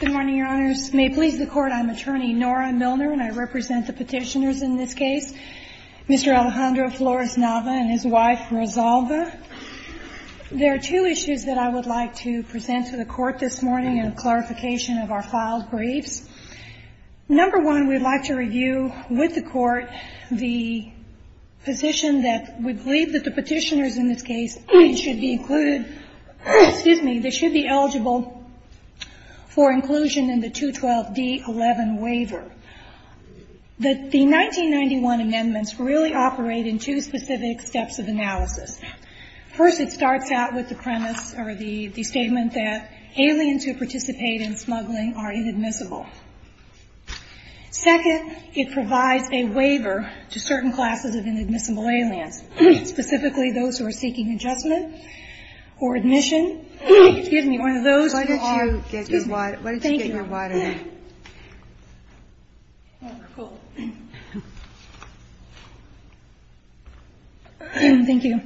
Good morning, your honors. May it please the court, I'm attorney Nora Milner, and I represent the petitioners in this case, Mr. Alejandro Flores-Nava and his wife, Rosalba. There are two issues that I would like to present to the court this morning in clarification of our filed briefs. Number one, we'd like to review with the court the position that we believe that the petitioners in this case should be included, excuse me, they should be eligible for inclusion in the 212d-11 waiver. The 1991 amendments really operate in two specific steps of analysis. First, it starts out with the premise or the the statement that aliens who participate in smuggling are inadmissible. Second, it provides a waiver to certain classes of inadmissible aliens, specifically those who are seeking adjustment. Or admission, excuse me, one of those who are... Thank you.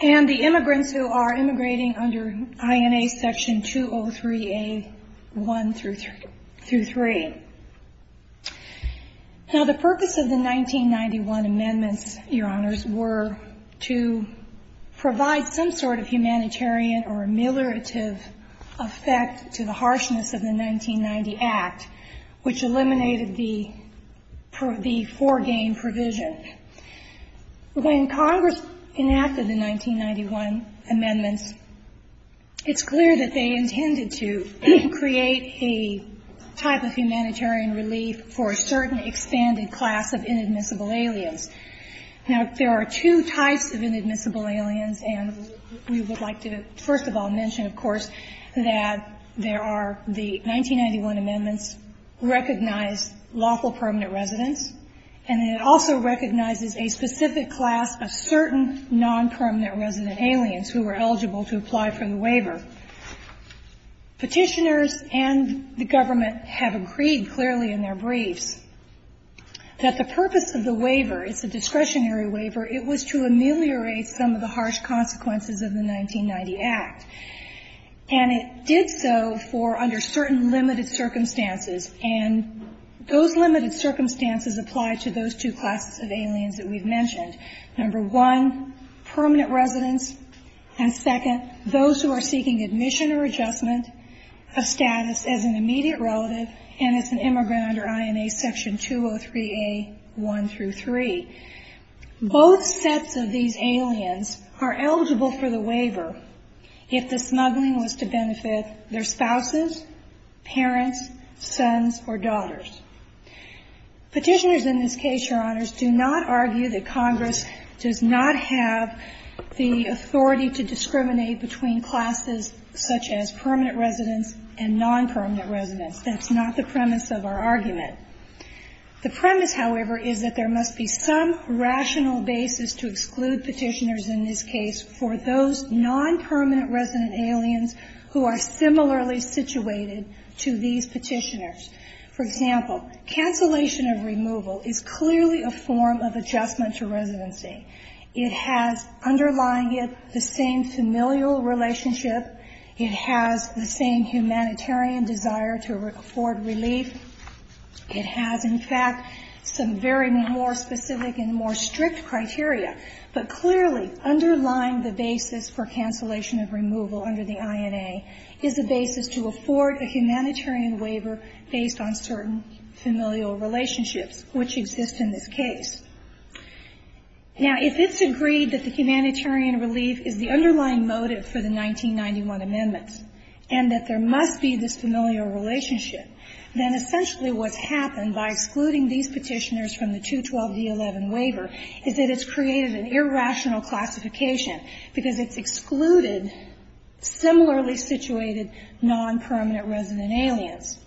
And the immigrants who are immigrating under INA section 203A-1 through 3. Now the purpose of the 1991 amendments, your honors, were to provide some sort of humanitarian or ameliorative effect to the harshness of the 1990 Act, which eliminated the foregain provision. When Congress enacted the 1991 amendments, it's clear that they intended to create a type of humanitarian relief for a certain expanded class of inadmissible aliens. Now, there are two types of inadmissible aliens, and we would like to first of all mention, of course, that there are the 1991 amendments recognize lawful permanent residents, and it also recognizes a specific class of certain non-permanent resident aliens who were eligible to apply for the waiver. Petitioners and the government have agreed clearly in their briefs that the purpose of the waiver, it's a discretionary waiver, it was to ameliorate some of the harsh consequences of the 1990 Act. And it did so for under certain limited circumstances, and those limited circumstances apply to those two classes of aliens that we've mentioned. Number one, permanent residents, and second, those who are seeking admission or adjustment of status as an immediate relative and as an immigrant under INA Section 203A, 1 through 3. Both sets of these aliens are eligible for the waiver if the smuggling was to benefit their spouses, parents, sons, or daughters. Petitioners in this case, Your Honors, do not argue that Congress does not have the authority to discriminate between classes such as permanent residents and non-permanent residents. That's not the premise of our argument. The premise, however, is that there must be some rational basis to exclude petitioners in this case for those non-permanent resident aliens who are similarly situated to these petitioners. For example, cancellation of removal is clearly a form of adjustment to residency. It has, underlying it, the same familial relationship. It has the same humanitarian desire to afford relief. It has, in fact, some very more specific and more strict criteria. But clearly, underlying the basis for cancellation of removal under the INA is a basis to afford a humanitarian waiver based on certain familial relationships, which exist in this case. Now, if it's agreed that the humanitarian relief is the underlying motive for the 1991 amendments, and that there must be this familial relationship, then essentially what's happened by excluding these petitioners from the 212D11 waiver is that it's created an irrational classification because it's excluded similarly situated non-permanent resident aliens.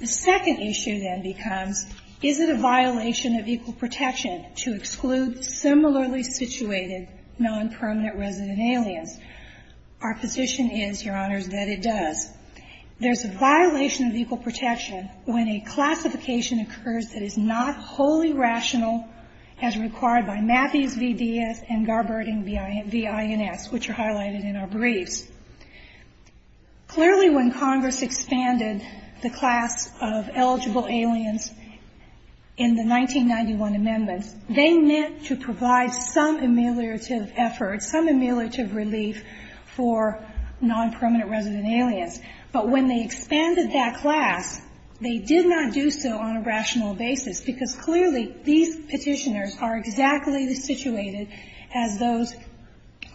The second issue then becomes, is it a violation of equal protection to exclude similarly situated non-permanent resident aliens? Our position is, Your Honors, that it does. There's a violation of equal protection when a classification occurs that is not wholly rational as required by Matthews v. Diaz and Garberding v. Ins, which are highlighted in our briefs. Clearly, when Congress expanded the class of eligible aliens in the 1991 amendments, they meant to provide some ameliorative effort, some ameliorative relief for non-permanent resident aliens. But when they expanded that class, they did not do so on a rational basis because clearly these petitioners are exactly the situated as those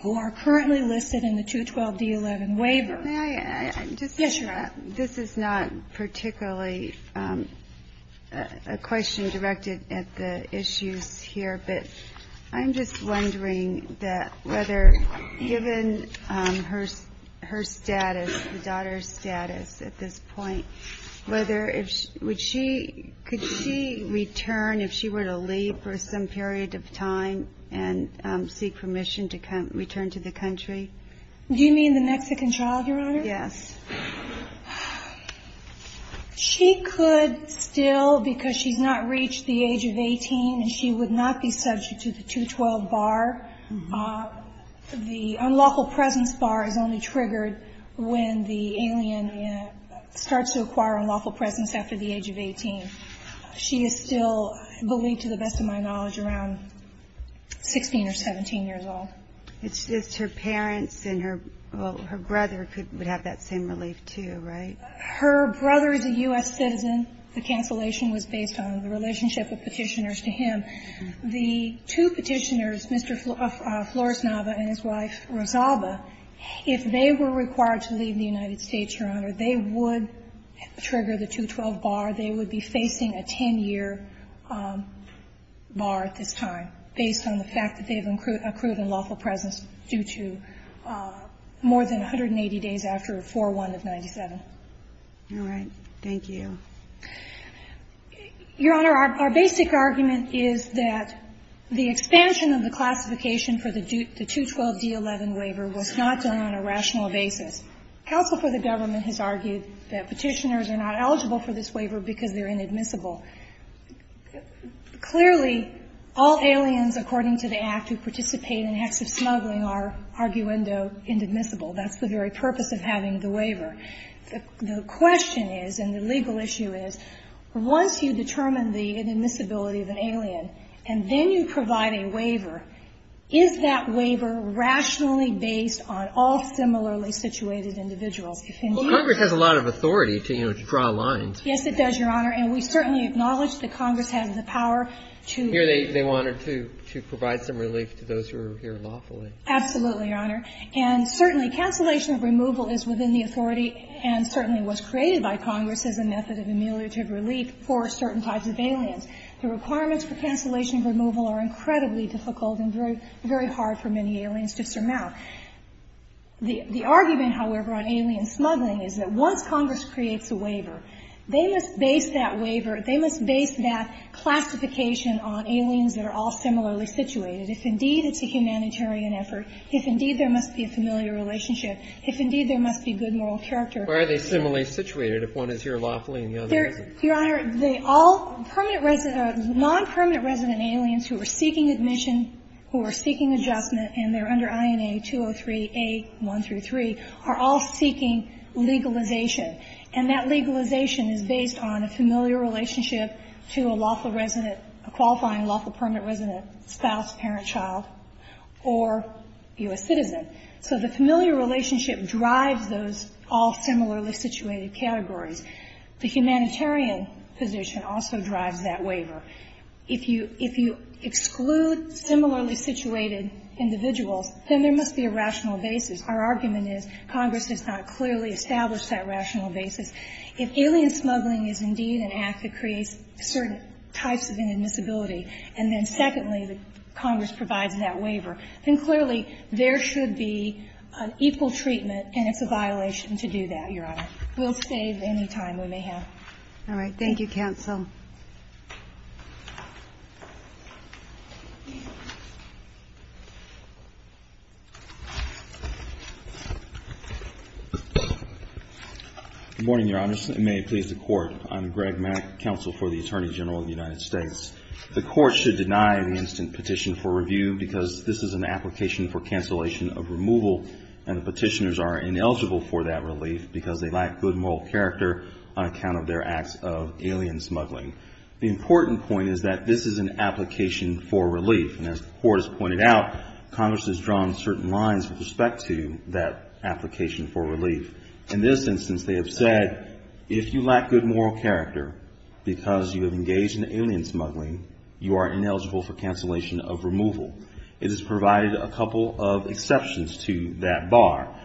who are currently listed in the 212D11 waiver. May I add? Yes, Your Honor. This is not particularly a question directed at the issues here, but I'm just wondering that whether, given her status, the daughter's status at this point, whether if she, would she, could she return if she were to leave for some period of time and seek permission to return to the country? Do you mean the Mexican child, Your Honor? Yes. She could still, because she's not reached the age of 18 and she would not be subject to the 212 bar, the unlawful presence bar is only triggered when the alien starts to acquire unlawful presence after the age of 18. She is still, I believe to the best of my knowledge, around 16 or 17 years old. It's just her parents and her brother would have that same relief too, right? Her brother is a U.S. citizen. The cancellation was based on the relationship of petitioners to him. The two petitioners, Mr. Flores-Nava and his wife, Rosalba, if they were required to leave the United States, Your Honor, they would trigger the 212 bar. They would be facing a 10-year bar at this time based on the fact that they've accrued unlawful presence due to more than 180 days after 4-1 of 97. All right. Thank you. Your Honor, our basic argument is that the expansion of the classification for the 212D11 waiver was not done on a rational basis. Counsel for the government has argued that petitioners are not eligible for this waiver because they're inadmissible. Clearly, all aliens, according to the Act, who participate in acts of smuggling are, arguendo, inadmissible. That's the very purpose of having the waiver. The question is, and the legal issue is, once you determine the inadmissibility of an alien and then you provide a waiver, is that waiver rationally based on all similarly situated individuals? Well, Congress has a lot of authority to, you know, to draw lines. Yes, it does, Your Honor. And we certainly acknowledge that Congress has the power to. Here they wanted to provide some relief to those who are here lawfully. Absolutely, Your Honor. And certainly cancellation of removal is within the authority and certainly was created by Congress as a method of ameliorative relief for certain types of aliens. The requirements for cancellation of removal are incredibly difficult and very hard for many aliens to surmount. The argument, however, on alien smuggling is that once Congress creates a waiver, they must base that waiver, they must base that classification on aliens that are all similarly situated. If indeed it's a humanitarian effort, if indeed there must be a familiar relationship, if indeed there must be good moral character. Why are they similarly situated if one is here lawfully and the other isn't? Your Honor, all non-permanent resident aliens who are seeking admission, who are seeking adjustment, and they're under INA 203A1-3, are all seeking legalization. And that legalization is based on a familiar relationship to a lawful resident, a qualifying lawful permanent resident, spouse, parent, child, or U.S. citizen. So the familiar relationship drives those all similarly situated categories. The humanitarian position also drives that waiver. If you exclude similarly situated individuals, then there must be a rational basis. Our argument is Congress has not clearly established that rational basis. If alien smuggling is indeed an act that creates certain types of inadmissibility, and then secondly, Congress provides that waiver, then clearly there should be an equal treatment, and it's a violation to do that, Your Honor. We'll save any time we may have. All right. Thank you, Counsel. Good morning, Your Honor. May it please the Court. I'm Greg Mack, Counsel for the Attorney General of the United States. The Court should deny the instant petition for review because this is an application for cancellation of removal, and the petitioners are ineligible for that relief because they lack good moral character on account of their acts of alien smuggling. The important point is that this is an application for relief, and as the Court has pointed out, Congress has drawn certain lines with respect to that application for relief. In this instance, they have said, if you lack good moral character because you have engaged in alien smuggling, you are ineligible for cancellation of removal. It has provided a couple of exceptions to that bar.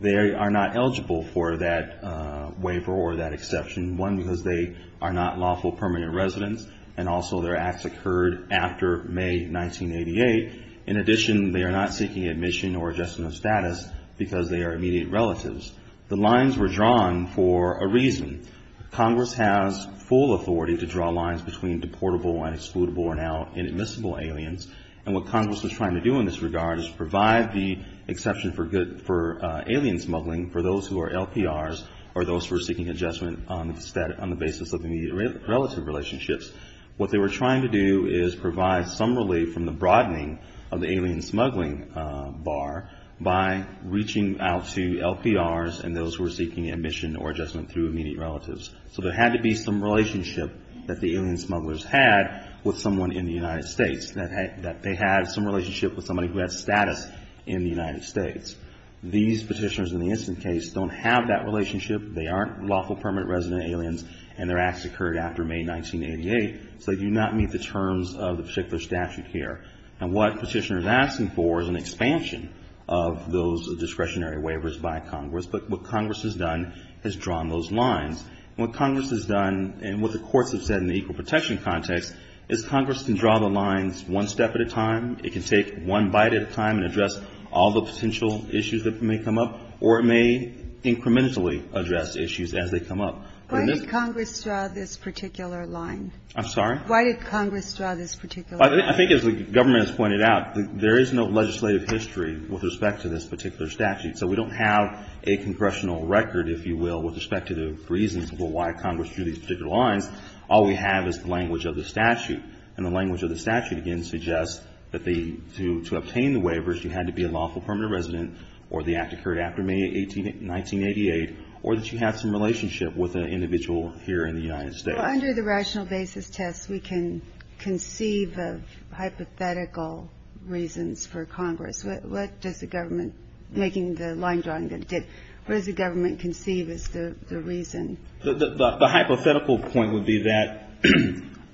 They are not eligible for that waiver or that exception. One, because they are not lawful permanent residents, and also their acts occurred after May 1988. In addition, they are not seeking admission or adjustment of status because they are immediate relatives. The lines were drawn for a reason. Congress has full authority to draw lines between deportable and excludable, or now inadmissible, aliens, and what Congress is trying to do in this regard is provide the exception for alien smuggling for those who are LPRs or those who are seeking adjustment on the basis of immediate relative relationships. What they were trying to do is provide some relief from the broadening of the alien smuggling bar by reaching out to LPRs and those who are seeking admission or adjustment through immediate relatives. So there had to be some relationship that the alien smugglers had with someone in the United States, that they had some relationship with somebody who had status in the United States. These petitioners in the instant case don't have that relationship. They aren't lawful permanent resident aliens, and their acts occurred after May 1988, so they do not meet the terms of the particular statute here. And what the petitioner is asking for is an expansion of those discretionary waivers by Congress, but what Congress has done is drawn those lines. What Congress has done, and what the courts have said in the equal protection context, is Congress can draw the lines one step at a time, it can take one bite at a time and address all the potential issues that may come up, or it may incrementally address issues as they come up. Why did Congress draw this particular line? I'm sorry? Why did Congress draw this particular line? I think as the government has pointed out, there is no legislative history with respect to this particular statute, so we don't have a congressional record, if you will, with respect to the reasons for why Congress drew these particular lines. All we have is the language of the statute, and the language of the statute, again, suggests that to obtain the waivers, you had to be a lawful permanent resident, or the act occurred after May 1988, or that you have some relationship with an individual here in the United States. Under the rational basis test, we can conceive of hypothetical reasons for Congress. What does the government, making the line drawing that it did, what does the government conceive as the reason? The hypothetical point would be that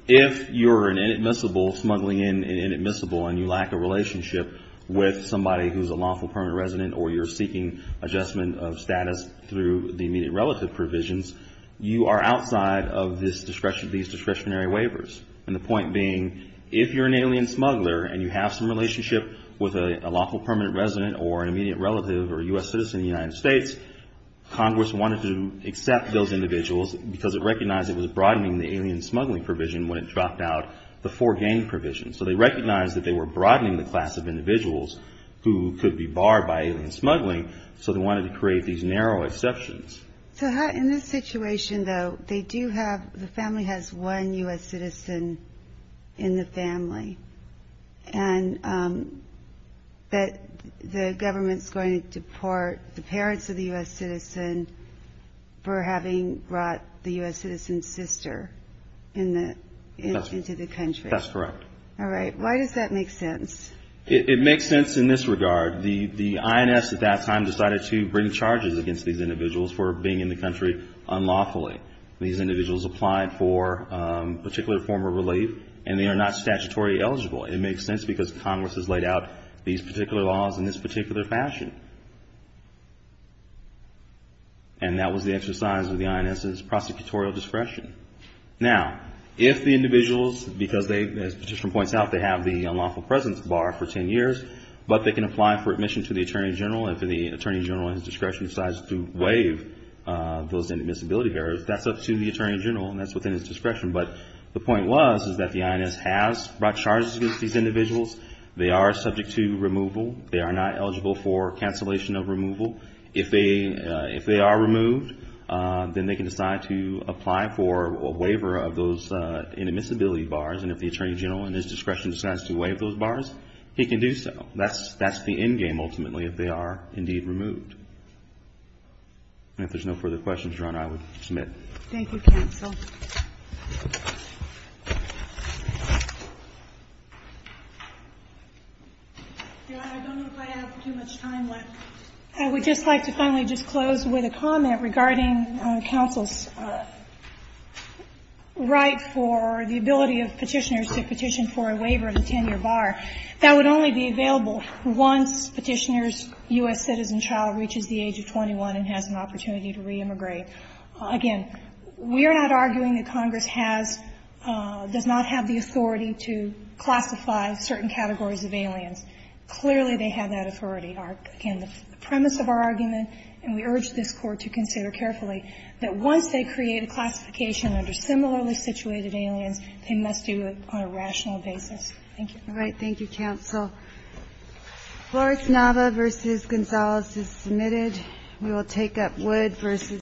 if you're an inadmissible, smuggling in an inadmissible, and you lack a relationship with somebody who's a lawful permanent resident, or you're seeking adjustment of status through the immediate relative provisions, you are outside of these discretionary waivers. And the point being, if you're an alien smuggler, and you have some relationship with a lawful permanent resident, or an immediate relative, or a U.S. citizen in the United States, Congress wanted to accept those individuals because it recognized it was broadening the alien smuggling provision when it dropped out the foregain provision. So they recognized that they were broadening the class of individuals who could be barred by alien smuggling, so they wanted to create these narrow exceptions. So how, in this situation, though, they do have, the family has one U.S. citizen in the family, and that the government's going to deport the parents of the U.S. citizen for having brought the U.S. citizen's sister into the country. That's correct. All right. Why does that make sense? It makes sense in this regard. The INS at that time decided to bring charges against these individuals for being in the country unlawfully. These individuals applied for particular form of relief, and they are not statutory eligible. It makes sense because Congress has laid out these particular laws in this particular fashion. And that was the exercise of the INS's prosecutorial discretion. Now, if the individuals, because they, as Petitioner points out, they have the unlawful presence bar for 10 years, but they can apply for admission to the Attorney General, and if the Attorney General, in his discretion, decides to waive those admissibility barriers, that's up to the Attorney General, and that's within his discretion. But the point was that the INS has brought charges against these individuals. They are subject to removal. They are not eligible for cancellation of removal. If they are removed, then they can decide to apply for a waiver of those admissibility bars, and if the Attorney General, in his discretion, decides to waive those bars, he can do so. That's the endgame, ultimately, if they are indeed removed. And if there's no further questions, Your Honor, I would submit. Thank you, counsel. Your Honor, I don't know if I have too much time left. I would just like to finally just close with a comment regarding counsel's right for the ability of Petitioners to petition for a waiver of a 10-year bar. That would only be available once Petitioner's U.S. citizen child reaches the age of 21 and has an opportunity to re-immigrate. Again, we are not arguing that Congress has, does not have the authority to classify certain categories of aliens. Clearly, they have that authority. Again, the premise of our argument, and we urge this Court to consider carefully, that once they create a classification under similarly situated aliens, they must do it on a rational basis. Thank you. All right. Thank you, counsel. Flores-Nava v. Gonzalez is submitted. We will take up Wood v. Gonzalez.